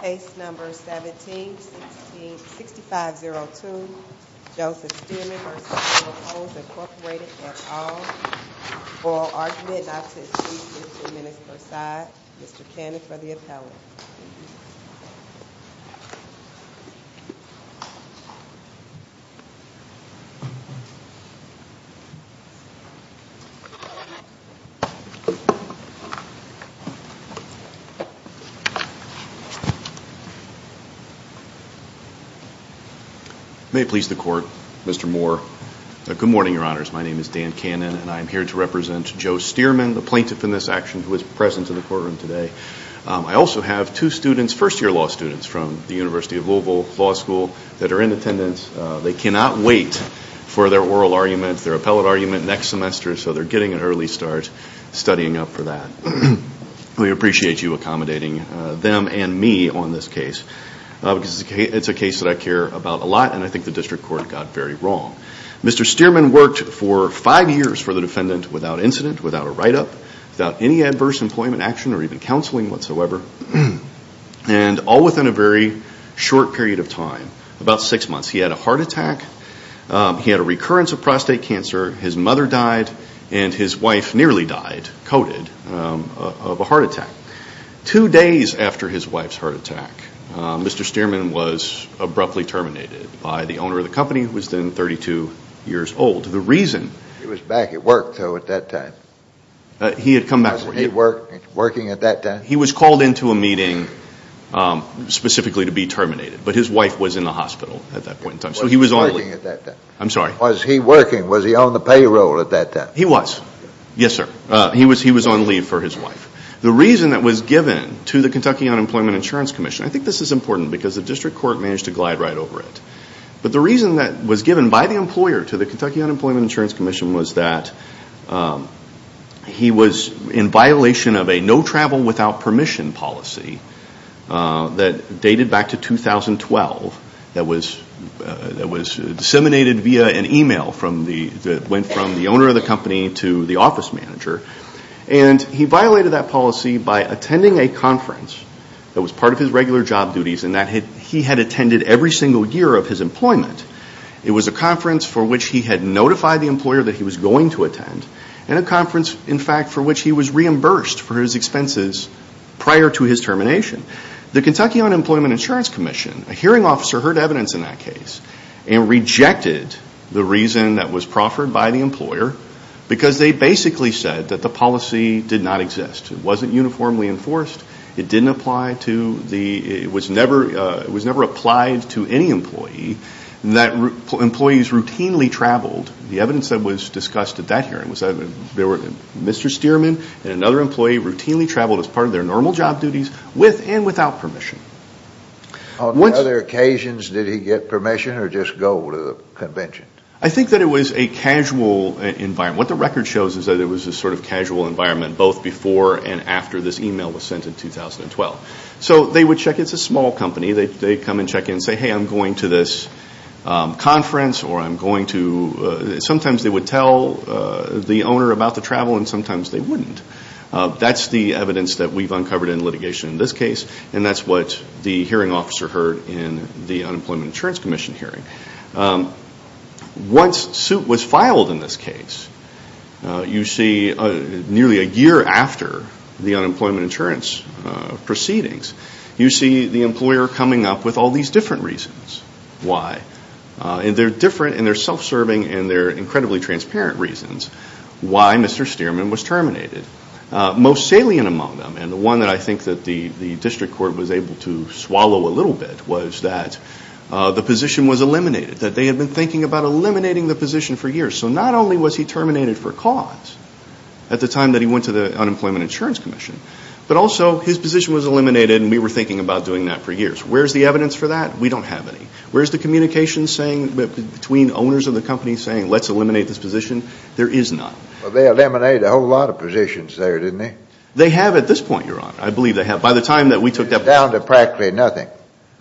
Case No. 17-6502 Joseph Stearman v. Ferro Coals Incorporated, et al. Oral argument not to exceed 15 minutes per side. Mr. Cannon for the appellate. May it please the court, Mr. Moore. Good morning, your honors. My name is Dan Cannon and I am here to represent Joe Stearman, the plaintiff in this action, who is present in the courtroom today. I also have two students, first year law students, from the University of Louisville Law School that are in attendance. They cannot wait for their oral argument, their appellate argument next semester, so they're getting an early start studying up for that. We appreciate you accommodating them and me on this case. It's a case that I care about a lot and I think the district court got very wrong. Mr. Stearman worked for five years for the defendant without incident, without a write-up, without any adverse employment action or even counseling whatsoever. And all within a very short period of time, about six months, he had a heart attack, he had a recurrence of prostate cancer, his mother died, and his wife nearly died, coded, of a heart attack. Two days after his wife's heart attack, Mr. Stearman was abruptly terminated by the owner of the company, who was then 32 years old. He was back at work, though, at that time. He had come back. Was he working at that time? He was called into a meeting specifically to be terminated, but his wife was in the hospital at that point in time. Was he working at that time? I'm sorry? Was he working? Was he on the payroll at that time? He was. Yes, sir. He was on leave for his wife. The reason that was given to the Kentucky Unemployment Insurance Commission, I think this is important because the district court managed to glide right over it, but the reason that was given by the employer to the Kentucky Unemployment Insurance Commission was that he was in violation of a no-travel-without-permission policy that dated back to 2012, that was disseminated via an email that went from the owner of the company to the office manager. He violated that policy by attending a conference that was part of his regular job duties and that he had attended every single year of his employment. It was a conference for which he had notified the employer that he was going to attend and a conference, in fact, for which he was reimbursed for his expenses prior to his termination. The Kentucky Unemployment Insurance Commission, a hearing officer, heard evidence in that case and rejected the reason that was proffered by the employer because they basically said that the policy did not exist. It wasn't uniformly enforced. It was never applied to any employee. Employees routinely traveled. The evidence that was discussed at that hearing was that Mr. Stearman and another employee routinely traveled as part of their normal job duties with and without permission. On other occasions, did he get permission or just go to the convention? I think that it was a casual environment. What the record shows is that it was a sort of casual environment both before and after this email was sent in 2012. It's a small company. They come and check in and say, hey, I'm going to this conference. Sometimes they would tell the owner about the travel and sometimes they wouldn't. That's the evidence that we've uncovered in litigation in this case, and that's what the hearing officer heard in the Unemployment Insurance Commission hearing. Once suit was filed in this case, you see nearly a year after the Unemployment Insurance proceedings, you see the employer coming up with all these different reasons why. They're different and they're self-serving and they're incredibly transparent reasons why Mr. Stearman was terminated. Most salient among them, and the one that I think the district court was able to swallow a little bit, was that the position was eliminated, that they had been thinking about eliminating the position for years. So not only was he terminated for cause at the time that he went to the Unemployment Insurance Commission, but also his position was eliminated and we were thinking about doing that for years. Where's the evidence for that? We don't have any. Where's the communication between owners of the company saying, let's eliminate this position? There is none. Well, they eliminated a whole lot of positions there, didn't they? They have at this point, Your Honor. I believe they have. By the time that we took that- Down to practically nothing.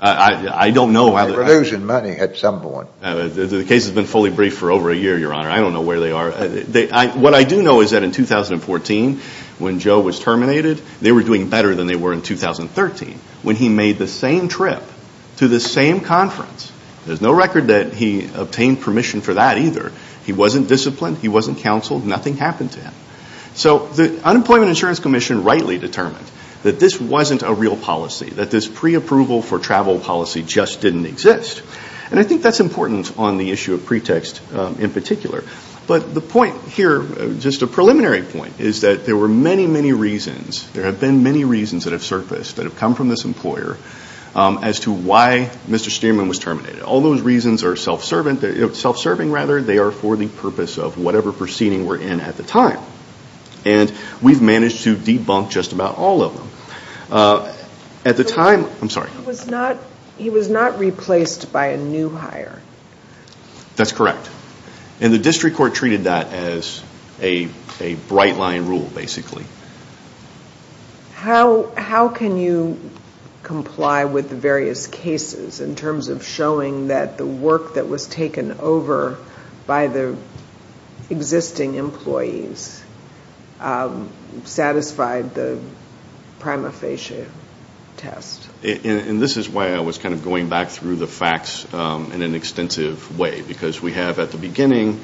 I don't know- They were losing money at some point. The case has been fully briefed for over a year, Your Honor. I don't know where they are. What I do know is that in 2014, when Joe was terminated, they were doing better than they were in 2013. When he made the same trip to the same conference, there's no record that he obtained permission for that either. He wasn't disciplined. He wasn't counseled. Nothing happened to him. So the Unemployment Insurance Commission rightly determined that this wasn't a real policy, that this preapproval for travel policy just didn't exist. And I think that's important on the issue of pretext in particular. But the point here, just a preliminary point, is that there were many, many reasons. There have been many reasons that have surfaced, that have come from this employer, as to why Mr. Stearman was terminated. All those reasons are self-serving, rather. They are for the purpose of whatever proceeding we're in at the time. And we've managed to debunk just about all of them. At the time- He was not replaced by a new hire. That's correct. And the district court treated that as a bright-line rule, basically. How can you comply with the various cases in terms of showing that the work that was taken over by the existing employees satisfied the prima facie test? And this is why I was kind of going back through the facts in an extensive way. Because we have, at the beginning,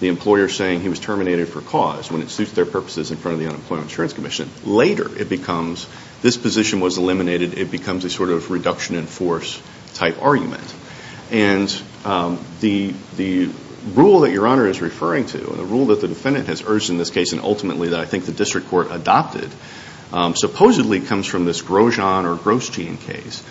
the employer saying he was terminated for cause, when it suits their purposes in front of the Unemployment Insurance Commission. Later, it becomes, this position was eliminated. It becomes a sort of reduction in force-type argument. And the rule that Your Honor is referring to, and the rule that the defendant has urged in this case, and ultimately that I think the district court adopted, supposedly comes from this Grosjean or Grosjean case.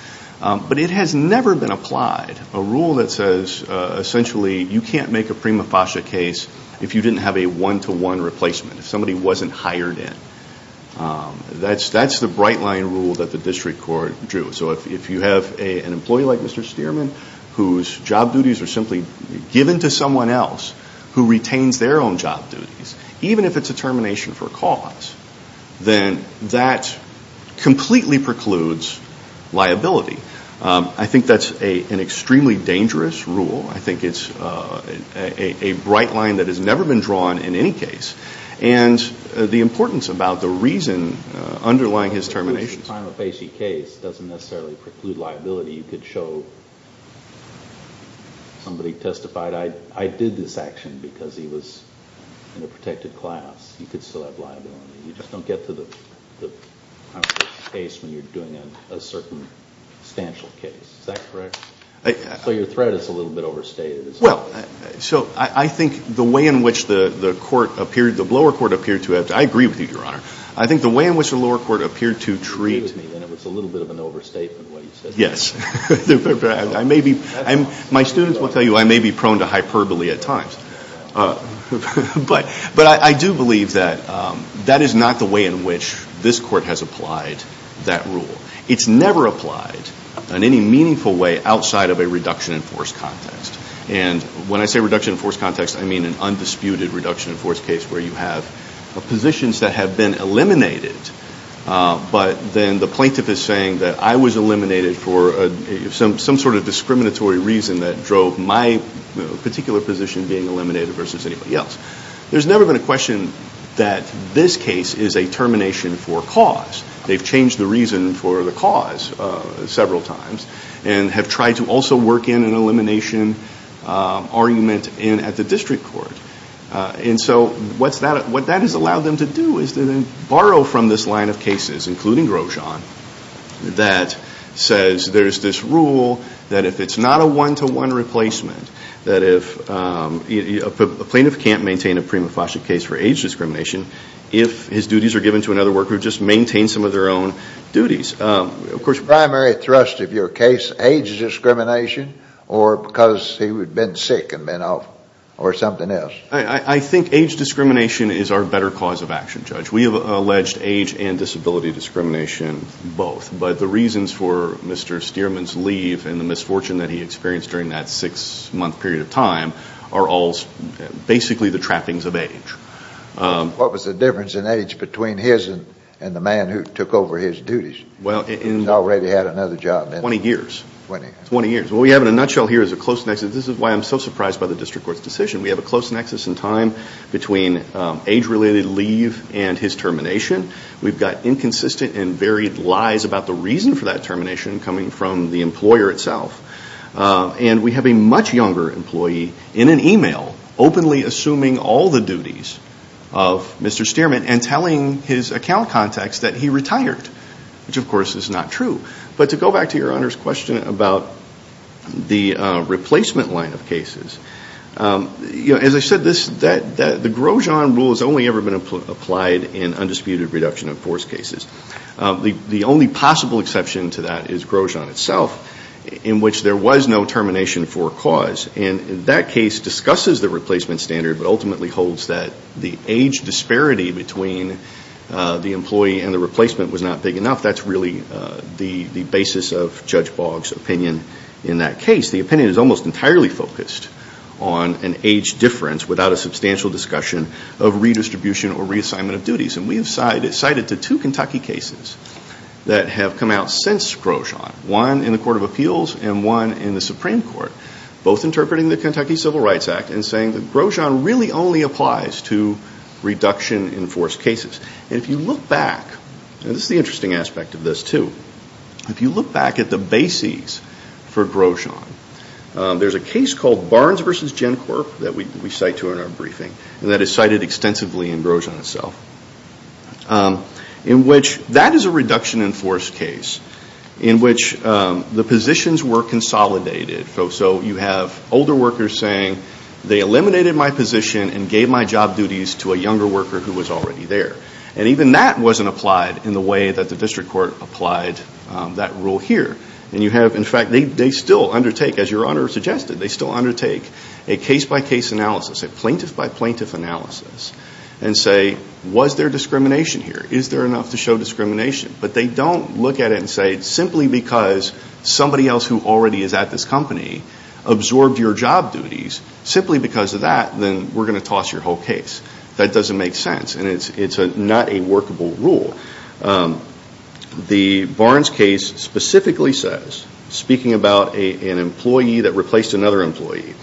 But it has never been applied. A rule that says, essentially, you can't make a prima facie case if you didn't have a one-to-one replacement. If somebody wasn't hired in. That's the bright-line rule that the district court drew. So if you have an employee like Mr. Stearman, whose job duties are simply given to someone else who retains their own job duties, even if it's a termination for cause, then that completely precludes liability. I think that's an extremely dangerous rule. I think it's a bright line that has never been drawn in any case. And the importance about the reason underlying his termination. The prima facie case doesn't necessarily preclude liability. You could show somebody testified, I did this action because he was in a protected class. You could still have liability. You just don't get to the case when you're doing a circumstantial case. Is that correct? So your threat is a little bit overstated. Well, so I think the way in which the court appeared, the lower court appeared to have, I agree with you, Your Honor. I think the way in which the lower court appeared to treat. I agree with you, and it was a little bit of an overstatement what you said there. Yes. I may be, my students will tell you I may be prone to hyperbole at times. But I do believe that that is not the way in which this court has applied that rule. It's never applied in any meaningful way outside of a reduction in force context. And when I say reduction in force context, I mean an undisputed reduction in force case where you have positions that have been eliminated. But then the plaintiff is saying that I was eliminated for some sort of discriminatory reason that drove my particular position being eliminated versus anybody else. There's never been a question that this case is a termination for cause. They've changed the reason for the cause several times and have tried to also work in an elimination argument at the district court. And so what that has allowed them to do is to then borrow from this line of cases, including Grosjean, that says there's this rule that if it's not a one-to-one replacement, that if a plaintiff can't maintain a prima facie case for age discrimination, if his duties are given to another worker who just maintains some of their own duties. Is the primary thrust of your case age discrimination or because he had been sick and been off or something else? I think age discrimination is our better cause of action, Judge. We have alleged age and disability discrimination both. But the reasons for Mr. Stearman's leave and the misfortune that he experienced during that six-month period of time are all basically the trappings of age. What was the difference in age between his and the man who took over his duties, who's already had another job? Twenty years. Twenty years. What we have in a nutshell here is a close nexus. This is why I'm so surprised by the district court's decision. We have a close nexus in time between age-related leave and his termination. We've got inconsistent and varied lies about the reason for that termination coming from the employer itself. And we have a much younger employee in an e-mail openly assuming all the duties of Mr. Stearman and telling his account contacts that he retired, which, of course, is not true. But to go back to Your Honor's question about the replacement line of cases, as I said, the Grosjean rule has only ever been applied in undisputed reduction of force cases. The only possible exception to that is Grosjean itself, in which there was no termination for cause. And that case discusses the replacement standard but ultimately holds that the age disparity between the employee and the replacement was not big enough. That's really the basis of Judge Boggs' opinion in that case. The opinion is almost entirely focused on an age difference without a substantial discussion of redistribution or reassignment of duties. And we have cited to two Kentucky cases that have come out since Grosjean, one in the Court of Appeals and one in the Supreme Court, both interpreting the Kentucky Civil Rights Act and saying that Grosjean really only applies to reduction in force cases. And if you look back, and this is the interesting aspect of this too, if you look back at the bases for Grosjean, there's a case called Barnes v. GenCorp that we cite to in our briefing and that is cited extensively in Grosjean itself. That is a reduction in force case in which the positions were consolidated. So you have older workers saying, they eliminated my position and gave my job duties to a younger worker who was already there. And even that wasn't applied in the way that the district court applied that rule here. And you have, in fact, they still undertake, as Your Honor suggested, they still undertake a case-by-case analysis, a plaintiff-by-plaintiff analysis and say, was there discrimination here? Is there enough to show discrimination? But they don't look at it and say, simply because somebody else who already is at this company absorbed your job duties, simply because of that, then we're going to toss your whole case. That doesn't make sense and it's not a workable rule. The Barnes case specifically says, speaking about an employee that replaced another employee,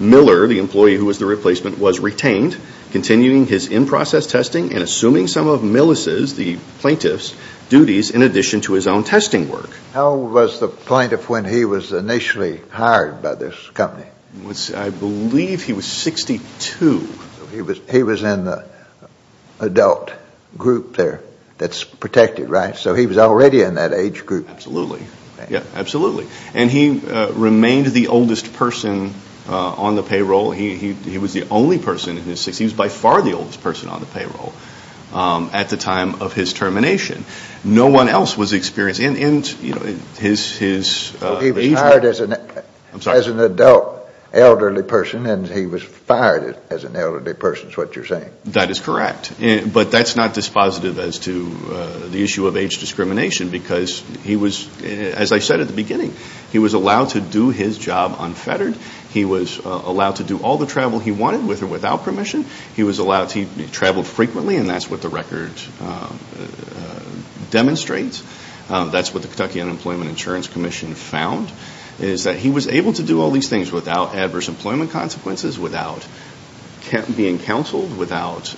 Miller, the employee who was the replacement, was retained, continuing his in-process testing and assuming some of Millis's, the plaintiff's, duties in addition to his own testing work. How old was the plaintiff when he was initially hired by this company? I believe he was 62. He was in the adult group there that's protected, right? So he was already in that age group. Absolutely. Yeah, absolutely. And he remained the oldest person on the payroll. He was the only person in his 60s, he was by far the oldest person on the payroll at the time of his termination. No one else was experienced in his age group. So he was hired as an adult elderly person and he was fired as an elderly person is what you're saying. That is correct. But that's not dispositive as to the issue of age discrimination because he was, as I said at the beginning, he was allowed to do his job unfettered. He was allowed to do all the travel he wanted with or without permission. He was allowed to travel frequently and that's what the record demonstrates. That's what the Kentucky Unemployment Insurance Commission found is that he was able to do all these things without adverse employment consequences, without being counseled, without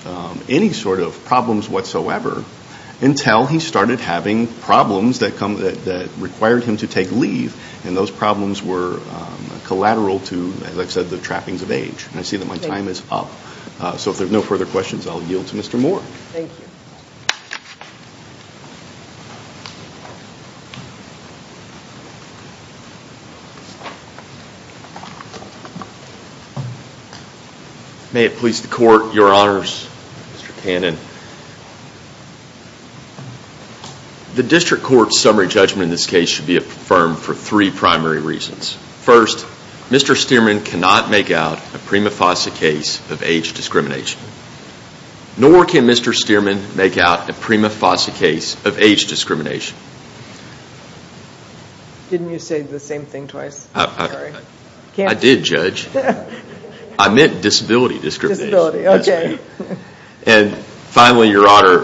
any sort of problems whatsoever until he started having problems that required him to take leave and those problems were collateral to, as I said, the trappings of age. I see that my time is up. So if there are no further questions, I'll yield to Mr. Moore. Thank you. Thank you. May it please the court, your honors, Mr. Cannon. The district court's summary judgment in this case should be affirmed for three primary reasons. First, Mr. Stearman cannot make out a prima facie case of age discrimination. Nor can Mr. Stearman make out a prima facie case of age discrimination. Didn't you say the same thing twice? I did, Judge. I meant disability discrimination. And finally, your honor,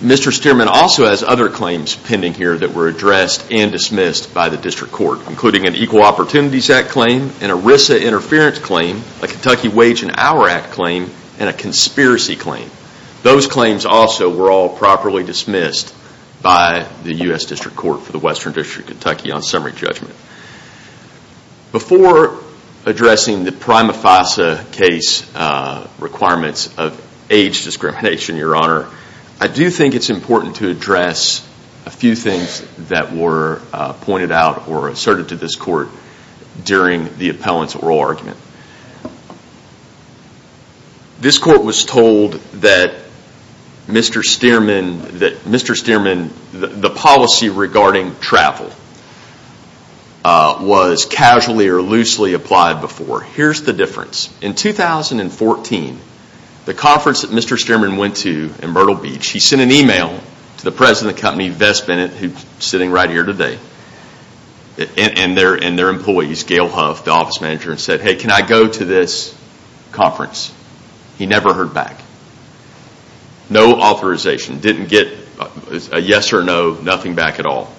Mr. Stearman also has other claims pending here that were addressed and dismissed by the district court, including an Equal Opportunities Act claim, an ERISA interference claim, a Kentucky Wage and Hour Act claim, and a conspiracy claim. Those claims also were all properly dismissed by the U.S. District Court for the Western District of Kentucky on summary judgment. Before addressing the prima facie case requirements of age discrimination, your honor, I do think it's important to address a few things that were pointed out or asserted to this court during the appellant's oral argument. This court was told that Mr. Stearman, the policy regarding travel, was casually or loosely applied before. Here's the difference. In 2014, the conference that Mr. Stearman went to in Myrtle Beach, he sent an email to the president of the company, Vess Bennett, who's sitting right here today, and their employees, Gail Huff, the office manager, and said, hey, can I go to this conference? He never heard back. No authorization. Didn't get a yes or no, nothing back at all.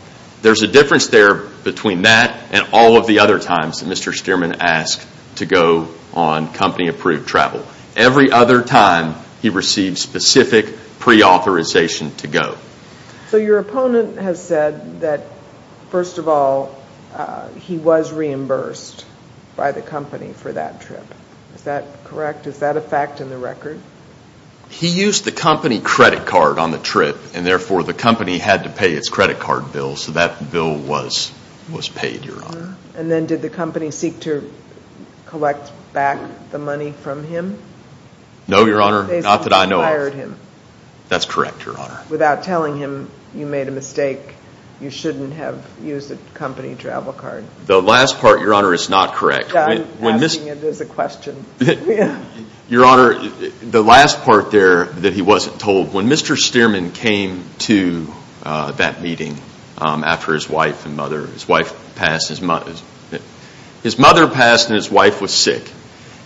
There's a difference there between that and all of the other times that Mr. Stearman asked to go on company-approved travel. Every other time, he received specific pre-authorization to go. So your opponent has said that, first of all, he was reimbursed by the company for that trip. Is that correct? Is that a fact in the record? He used the company credit card on the trip, and therefore the company had to pay its credit card bill, so that bill was paid, your honor. And then did the company seek to collect back the money from him? No, your honor, not that I know of. They simply fired him. That's correct, your honor. Without telling him you made a mistake, you shouldn't have used the company travel card. The last part, your honor, is not correct. I'm asking it as a question. Your honor, the last part there that he wasn't told, when Mr. Stearman came to that meeting after his wife and mother, his wife passed, his mother passed and his wife was sick,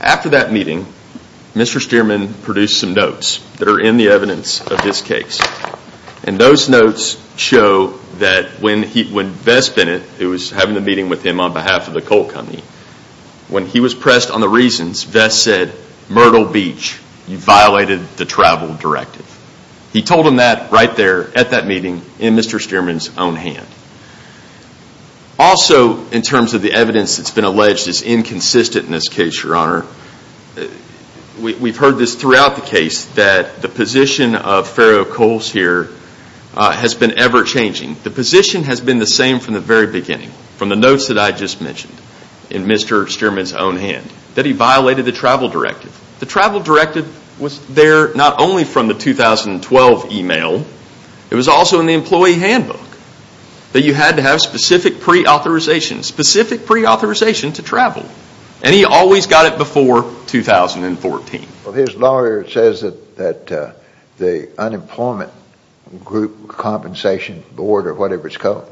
After that meeting, Mr. Stearman produced some notes that are in the evidence of this case. And those notes show that when Vess Bennett, who was having a meeting with him on behalf of the coal company, when he was pressed on the reasons, Vess said, Myrtle Beach, you violated the travel directive. He told him that right there at that meeting in Mr. Stearman's own hand. Also, in terms of the evidence that's been alleged is inconsistent in this case, your honor. We've heard this throughout the case that the position of Farrow Coals here has been ever changing. The position has been the same from the very beginning, from the notes that I just mentioned in Mr. Stearman's own hand, that he violated the travel directive. The travel directive was there not only from the 2012 email, it was also in the employee handbook that you had to have specific pre-authorization, specific pre-authorization to travel. And he always got it before 2014. His lawyer says that the unemployment group compensation board or whatever it's called,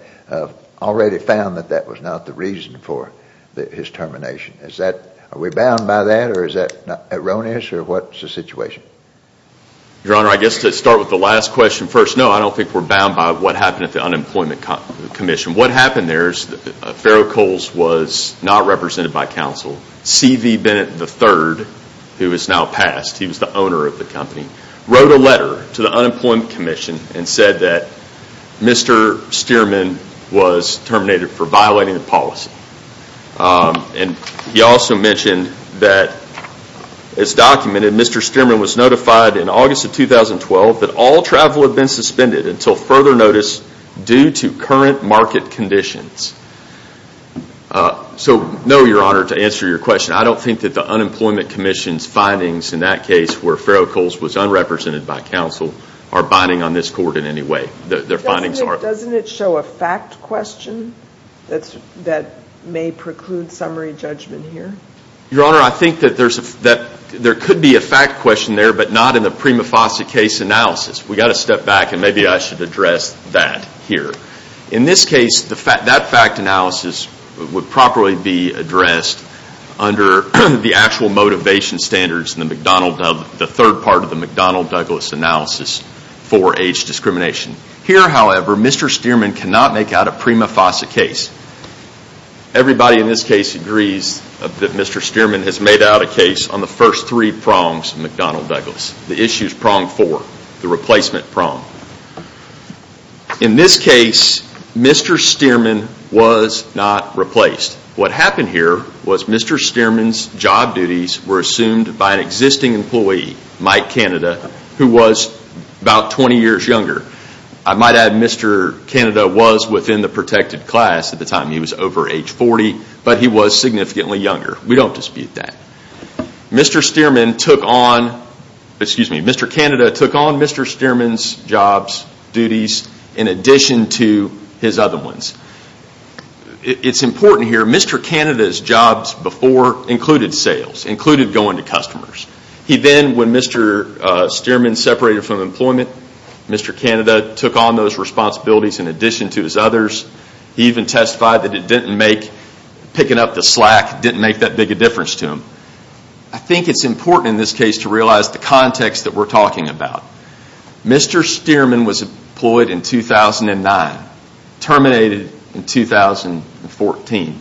already found that that was not the reason for his termination. Are we bound by that or is that erroneous or what's the situation? Your honor, I guess to start with the last question first. No, I don't think we're bound by what happened at the unemployment commission. What happened there is that Farrow Coals was not represented by counsel. C.V. Bennett III, who is now passed, he was the owner of the company, wrote a letter to the unemployment commission and said that Mr. Stearman was terminated for violating the policy. And he also mentioned that it's documented Mr. Stearman was notified in August of 2012 that all travel had been suspended until further notice due to current market conditions. So no, your honor, to answer your question, I don't think that the unemployment commission's findings in that case where Farrow Coals was unrepresented by counsel are binding on this court in any way. Doesn't it show a fact question that may preclude summary judgment here? Your honor, I think that there could be a fact question there but not in the prima facie case analysis. We've got to step back and maybe I should address that here. In this case, that fact analysis would properly be addressed under the actual motivation standards in the third part of the McDonnell-Douglas analysis for age discrimination. Here, however, Mr. Stearman cannot make out a prima facie case. Everybody in this case agrees that Mr. Stearman has made out a case on the first three prongs of McDonnell-Douglas. The issues prong four, the replacement prong. In this case, Mr. Stearman was not replaced. What happened here was Mr. Stearman's job duties were assumed by an existing employee, Mike Canada, who was about 20 years younger. I might add Mr. Canada was within the protected class at the time. He was over age 40 but he was significantly younger. We don't dispute that. Mr. Canada took on Mr. Stearman's job duties in addition to his other ones. It's important here, Mr. Canada's jobs before included sales, included going to customers. He then, when Mr. Stearman separated from employment, Mr. Canada took on those responsibilities in addition to his others. He even testified that picking up the slack didn't make that big a difference to him. I think it's important in this case to realize the context that we're talking about. Mr. Stearman was employed in 2009, terminated in 2014.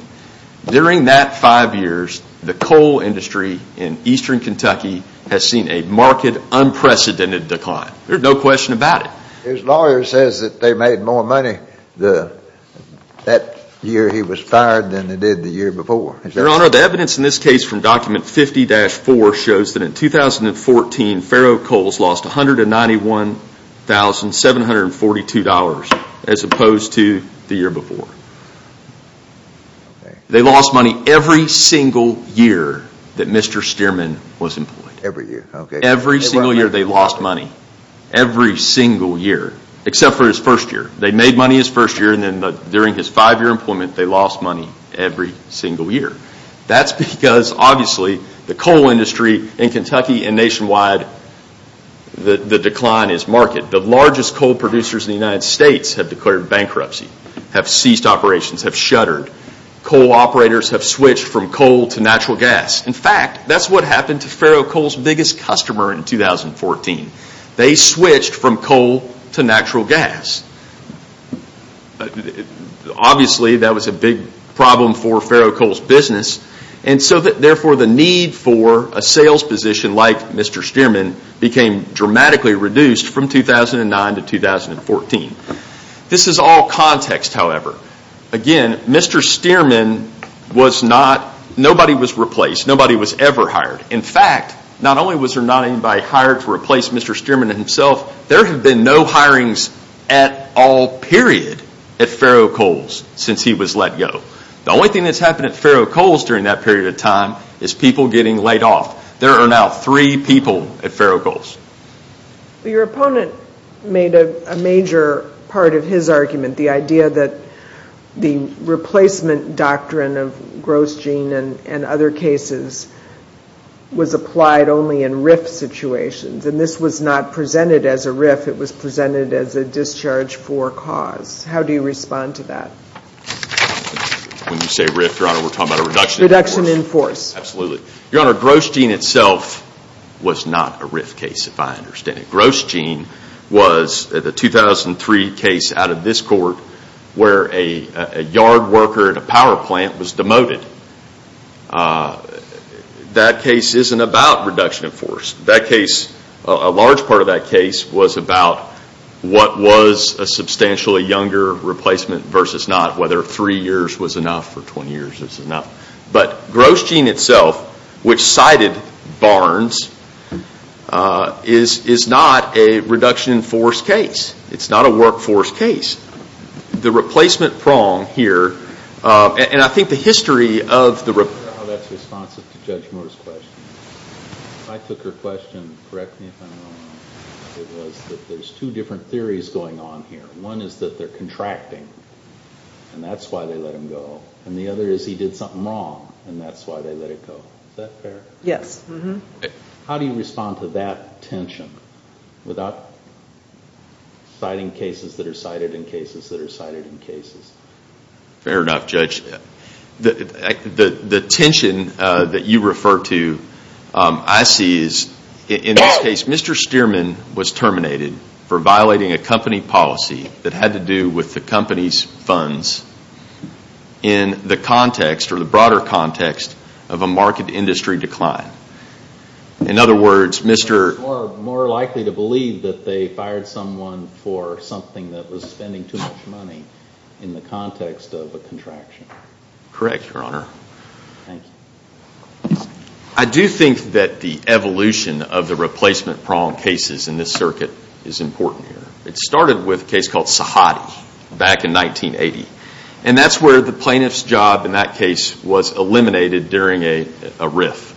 During that five years, the coal industry in eastern Kentucky has seen a marked, unprecedented decline. There's no question about it. His lawyer says that they made more money that year he was fired than they did the year before. Your Honor, the evidence in this case from document 50-4 shows that in 2014, Farrow Coals lost $191,742 as opposed to the year before. They lost money every single year that Mr. Stearman was employed. Every year, okay. Every single year they lost money. Every single year, except for his first year. They made money his first year, and then during his five-year employment, they lost money every single year. That's because, obviously, the coal industry in Kentucky and nationwide, the decline is marked. The largest coal producers in the United States have declared bankruptcy, have ceased operations, have shuttered. Coal operators have switched from coal to natural gas. In fact, that's what happened to Farrow Coals' biggest customer in 2014. They switched from coal to natural gas. Obviously, that was a big problem for Farrow Coals' business. Therefore, the need for a sales position like Mr. Stearman became dramatically reduced from 2009 to 2014. This is all context, however. Again, Mr. Stearman, nobody was replaced. Nobody was ever hired. In fact, not only was there not anybody hired to replace Mr. Stearman and himself, there have been no hirings at all, period, at Farrow Coals since he was let go. The only thing that's happened at Farrow Coals during that period of time is people getting laid off. There are now three people at Farrow Coals. Your opponent made a major part of his argument, the idea that the replacement doctrine of gross gene and other cases was applied only in RIF situations. And this was not presented as a RIF. It was presented as a discharge for cause. How do you respond to that? When you say RIF, Your Honor, we're talking about a reduction in force. Reduction in force. Absolutely. Your Honor, gross gene itself was not a RIF case, if I understand it. Gross gene was the 2003 case out of this court where a yard worker at a power plant was demoted. That case isn't about reduction in force. That case, a large part of that case, was about what was a substantially younger replacement versus not, whether three years was enough or 20 years was enough. But gross gene itself, which cited Barnes, is not a reduction in force case. It's not a workforce case. The replacement prong here, and I think the history of the... That's responsive to Judge Moore's question. I took her question, correct me if I'm wrong, it was that there's two different theories going on here. One is that they're contracting, and that's why they let him go. And the other is he did something wrong, and that's why they let him go. Is that fair? Yes. How do you respond to that tension without citing cases that are cited in cases that are cited in cases? Fair enough, Judge. The tension that you refer to, I see is, in this case, Mr. Stearman was terminated for violating a company policy that had to do with the company's funds in the context, or the broader context, of a market industry decline. In other words, Mr. More likely to believe that they fired someone for something that was spending too much money in the context of a contraction. Correct, Your Honor. Thank you. I do think that the evolution of the replacement prong cases in this circuit is important here. It started with a case called Sahadi back in 1980. And that's where the plaintiff's job in that case was eliminated during a riff.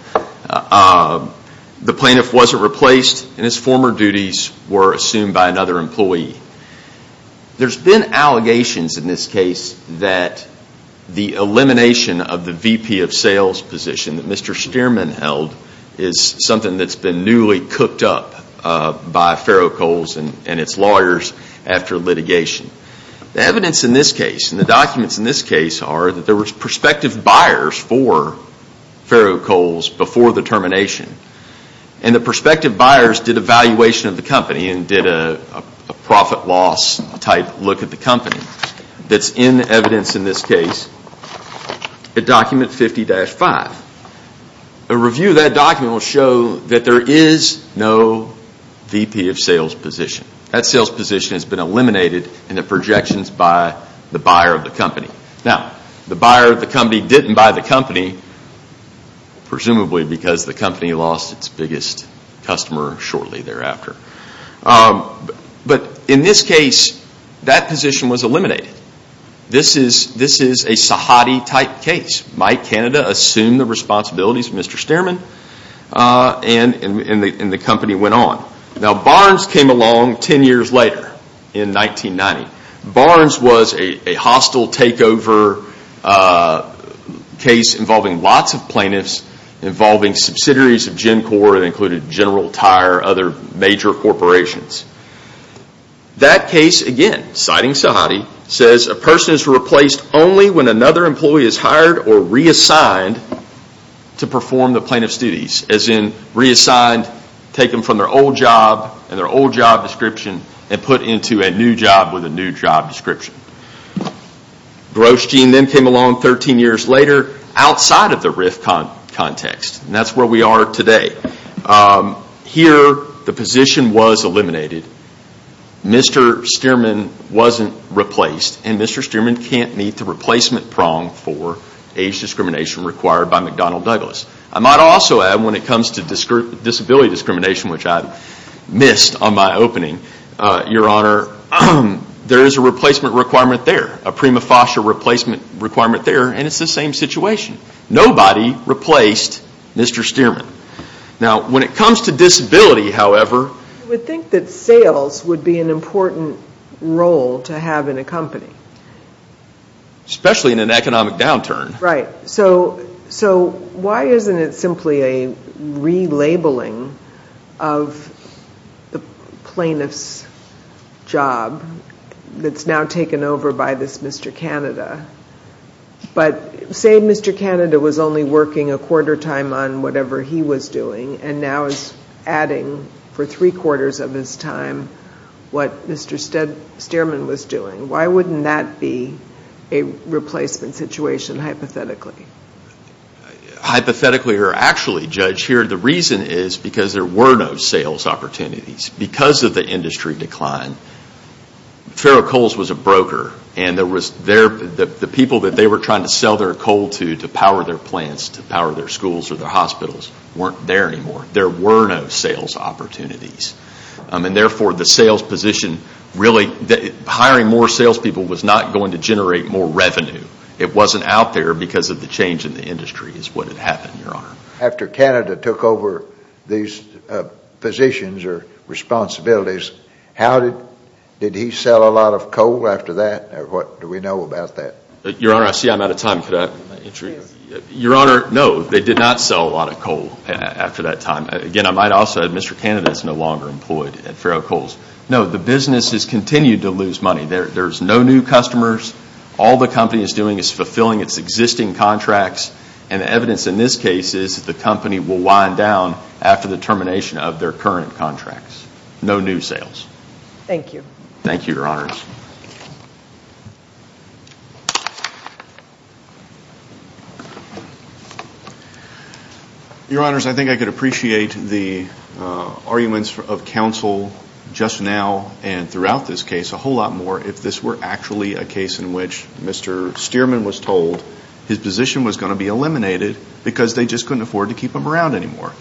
The plaintiff wasn't replaced, and his former duties were assumed by another employee. There's been allegations in this case that the elimination of the VP of Sales position that Mr. Stearman held is something that's been newly cooked up by Ferro-Coals and its lawyers after litigation. The evidence in this case, and the documents in this case, are that there were prospective buyers for Ferro-Coals before the termination. And the prospective buyers did a valuation of the company and did a profit-loss type look at the company. That's in evidence in this case in document 50-5. A review of that document will show that there is no VP of Sales position. That sales position has been eliminated in the projections by the buyer of the company. Now, the buyer of the company didn't buy the company, presumably because the company lost its biggest customer shortly thereafter. But in this case, that position was eliminated. This is a Sahadi type case. Mike Canada assumed the responsibilities of Mr. Stearman, and the company went on. Now Barnes came along 10 years later in 1990. Barnes was a hostile takeover case involving lots of plaintiffs, involving subsidiaries of GenCorp that included General Tire and other major corporations. That case, again, citing Sahadi, says a person is replaced only when another employee is hired or reassigned to perform the plaintiff's duties. As in, reassigned, taken from their old job and their old job description, and put into a new job with a new job description. Grosjean then came along 13 years later outside of the RIF context. And that's where we are today. Here, the position was eliminated. Mr. Stearman wasn't replaced. And Mr. Stearman can't meet the replacement prong for age discrimination required by McDonnell Douglas. I might also add, when it comes to disability discrimination, which I missed on my opening, your honor, there is a replacement requirement there, a prima facie replacement requirement there, and it's the same situation. Nobody replaced Mr. Stearman. Now, when it comes to disability, however... I would think that sales would be an important role to have in a company. Especially in an economic downturn. Right. So why isn't it simply a relabeling of the plaintiff's job that's now taken over by this Mr. Canada? But say Mr. Canada was only working a quarter time on whatever he was doing and now is adding for three quarters of his time what Mr. Stearman was doing. Why wouldn't that be a replacement situation, hypothetically? Hypothetically or actually, Judge, here the reason is because there were no sales opportunities. Because of the industry decline, Ferrocoals was a broker, and the people that they were trying to sell their coal to, to power their plants, to power their schools or their hospitals, weren't there anymore. There were no sales opportunities. And therefore, the sales position really... Hiring more salespeople was not going to generate more revenue. It wasn't out there because of the change in the industry is what had happened, Your Honor. After Canada took over these positions or responsibilities, how did... did he sell a lot of coal after that? What do we know about that? Your Honor, I see I'm out of time. Could I... Your Honor, no, they did not sell a lot of coal after that time. Again, I might also... Mr. Canada is no longer employed at Ferrocoals. No, the business has continued to lose money. There's no new customers. All the company is doing is fulfilling its existing contracts. And the evidence in this case is that the company will wind down after the termination of their current contracts. No new sales. Thank you. Thank you, Your Honors. Your Honors, I think I could appreciate the arguments of counsel just now and throughout this case a whole lot more if this were actually a case in which Mr. Stearman was told his position was going to be eliminated because they just couldn't afford to keep him around anymore.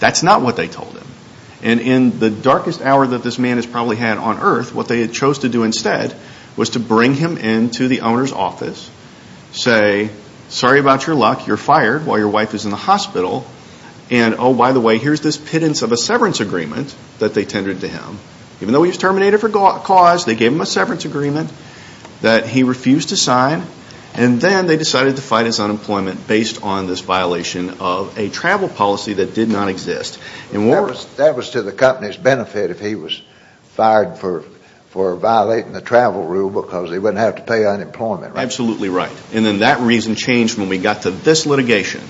That's not what they told him. And in the darkest hour that this man has probably had on earth, what they had chose to do instead was to say, bring him into the owner's office, say, sorry about your luck, you're fired while your wife is in the hospital, and oh, by the way, here's this pittance of a severance agreement that they tendered to him. Even though he was terminated for cause, they gave him a severance agreement that he refused to sign, and then they decided to fight his unemployment based on this violation of a travel policy that did not exist. That was to the company's benefit if he was fired for violating the travel rule because he wouldn't have to pay unemployment, right? Absolutely right. And then that reason changed when we got to this litigation.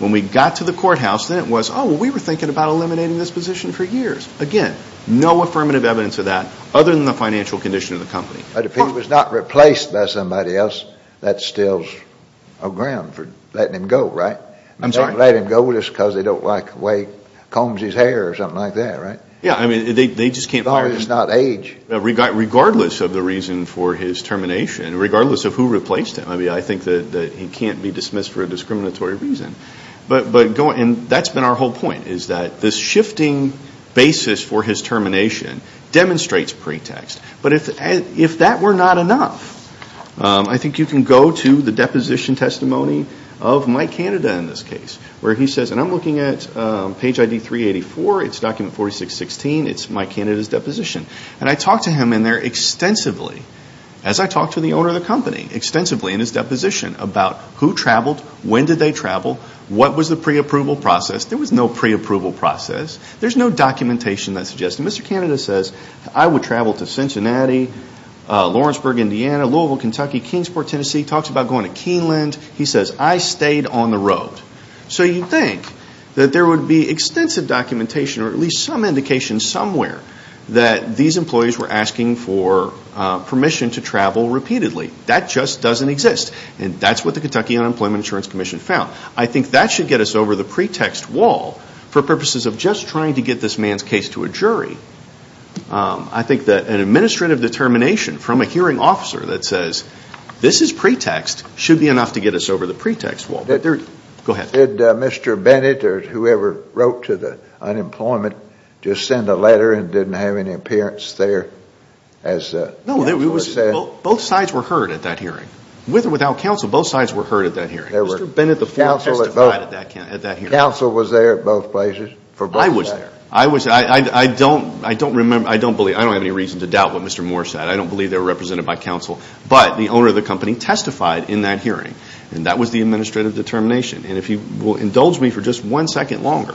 When we got to the courthouse, then it was, oh, we were thinking about eliminating this position for years. Again, no affirmative evidence of that other than the financial condition of the company. But if he was not replaced by somebody else, that's still a ground for letting him go, right? I'm sorry? They can't let him go just because they don't like the way he combs his hair or something like that, right? Yeah, I mean, they just can't fire him. As long as it's not age. Regardless of the reason for his termination, regardless of who replaced him, I mean, I think that he can't be dismissed for a discriminatory reason. And that's been our whole point is that this shifting basis for his termination demonstrates pretext. But if that were not enough, I think you can go to the deposition testimony of Mike Canada in this case where he says, and I'm looking at page ID 384. It's document 4616. It's Mike Canada's deposition. And I talked to him in there extensively as I talked to the owner of the company extensively in his deposition about who traveled, when did they travel, what was the preapproval process. There was no preapproval process. There's no documentation that suggests. And Mr. Canada says, I would travel to Cincinnati, Lawrenceburg, Indiana, Louisville, Kentucky, Kingsport, Tennessee. He talks about going to Keeneland. He says, I stayed on the road. So you'd think that there would be extensive documentation or at least some indication somewhere that these employees were asking for permission to travel repeatedly. That just doesn't exist. And that's what the Kentucky Unemployment Insurance Commission found. I think that should get us over the pretext wall for purposes of just trying to get this man's case to a jury. I think that an administrative determination from a hearing officer that says this is pretext should be enough to get us over the pretext wall. Go ahead. Did Mr. Bennett or whoever wrote to the unemployment just send a letter and didn't have any appearance there? No, both sides were heard at that hearing. With or without counsel, both sides were heard at that hearing. Mr. Bennett testified at that hearing. Counsel was there at both places? I was there. I don't have any reason to doubt what Mr. Moore said. I don't believe they were represented by counsel. But the owner of the company testified in that hearing, and that was the administrative determination. And if you will indulge me for just one second longer,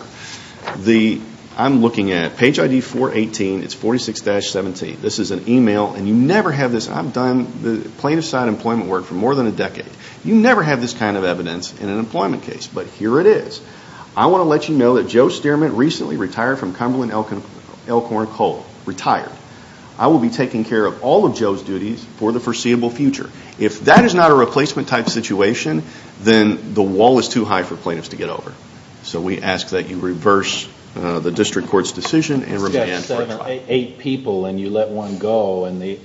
I'm looking at page ID 418. It's 46-17. This is an email, and you never have this. I've done plaintiff-side employment work for more than a decade. You never have this kind of evidence in an employment case, but here it is. I want to let you know that Joe Stearman, recently retired from Cumberland Elkhorn Coal. Retired. I will be taking care of all of Joe's duties for the foreseeable future. If that is not a replacement-type situation, then the wall is too high for plaintiffs to get over. So we ask that you reverse the district court's decision and remand. He's got seven or eight people, and you let one go, and they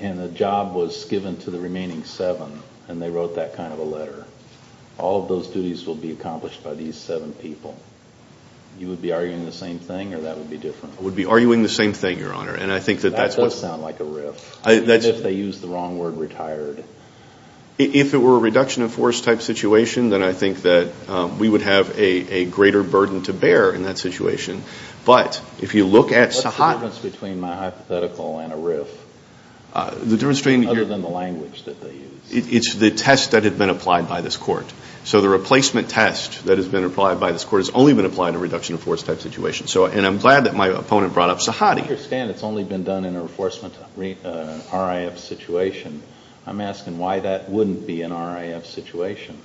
wrote that kind of a letter. All of those duties will be accomplished by these seven people. You would be arguing the same thing, or that would be different? I would be arguing the same thing, Your Honor. That does sound like a riff. Even if they use the wrong word, retired. If it were a reduction-of-force-type situation, then I think that we would have a greater burden to bear in that situation. But if you look at Sahat. What's the difference between my hypothetical and a riff, other than the language that they use? It's the test that had been applied by this court. So the replacement test that has been applied by this court has only been applied in a reduction-of-force-type situation. And I'm glad that my opponent brought up Sahat. I understand it's only been done in a reinforcement RAF situation. I'm asking why that wouldn't be an RAF situation.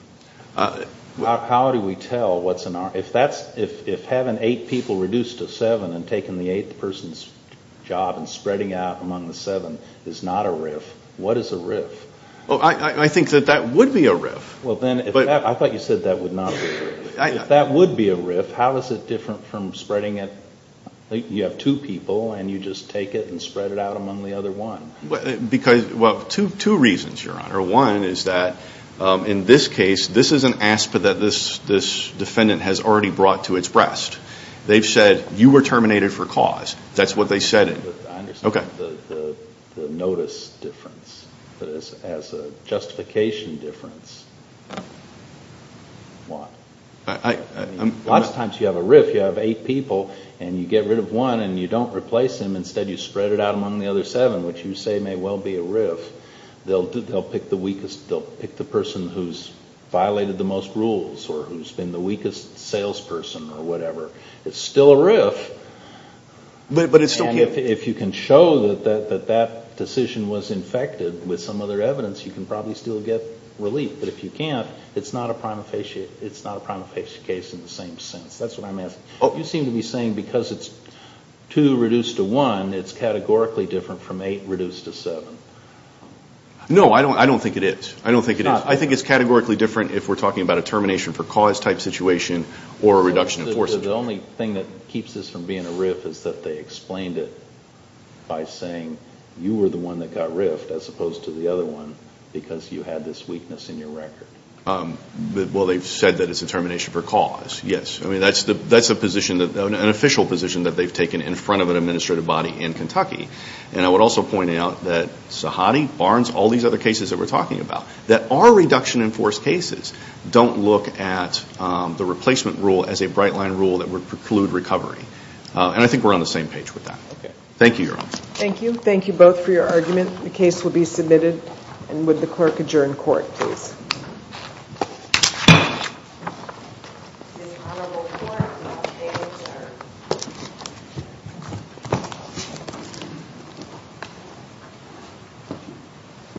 How do we tell what's an RAF? If having eight people reduced to seven and taking the eighth person's job and spreading out among the seven is not a riff, what is a riff? I think that that would be a riff. I thought you said that would not be a riff. If that would be a riff, how is it different from spreading it? You have two people, and you just take it and spread it out among the other one. Two reasons, Your Honor. One is that in this case, this is an aspect that this defendant has already brought to its breast. They've said, you were terminated for cause. That's what they said. I understand the notice difference. But as a justification difference, what? A lot of times you have a riff. You have eight people, and you get rid of one, and you don't replace him. Instead, you spread it out among the other seven, which you say may well be a riff. They'll pick the person who's violated the most rules or who's been the weakest salesperson or whatever. It's still a riff. And if you can show that that decision was infected with some other evidence, you can probably still get relief. But if you can't, it's not a prima facie case in the same sense. That's what I'm asking. You seem to be saying because it's two reduced to one, it's categorically different from eight reduced to seven. No, I don't think it is. I don't think it is. I think it's categorically different if we're talking about a termination for cause type situation or a reduction in force. The only thing that keeps this from being a riff is that they explained it by saying you were the one that got riffed as opposed to the other one because you had this weakness in your record. Well, they've said that it's a termination for cause, yes. That's an official position that they've taken in front of an administrative body in Kentucky. And I would also point out that Sahadi, Barnes, all these other cases that we're talking about that are reduction in force cases don't look at the replacement rule as a bright line rule that would preclude recovery. And I think we're on the same page with that. Thank you, Your Honor. Thank you. Thank you both for your argument. The case will be submitted. And would the clerk adjourn court, please?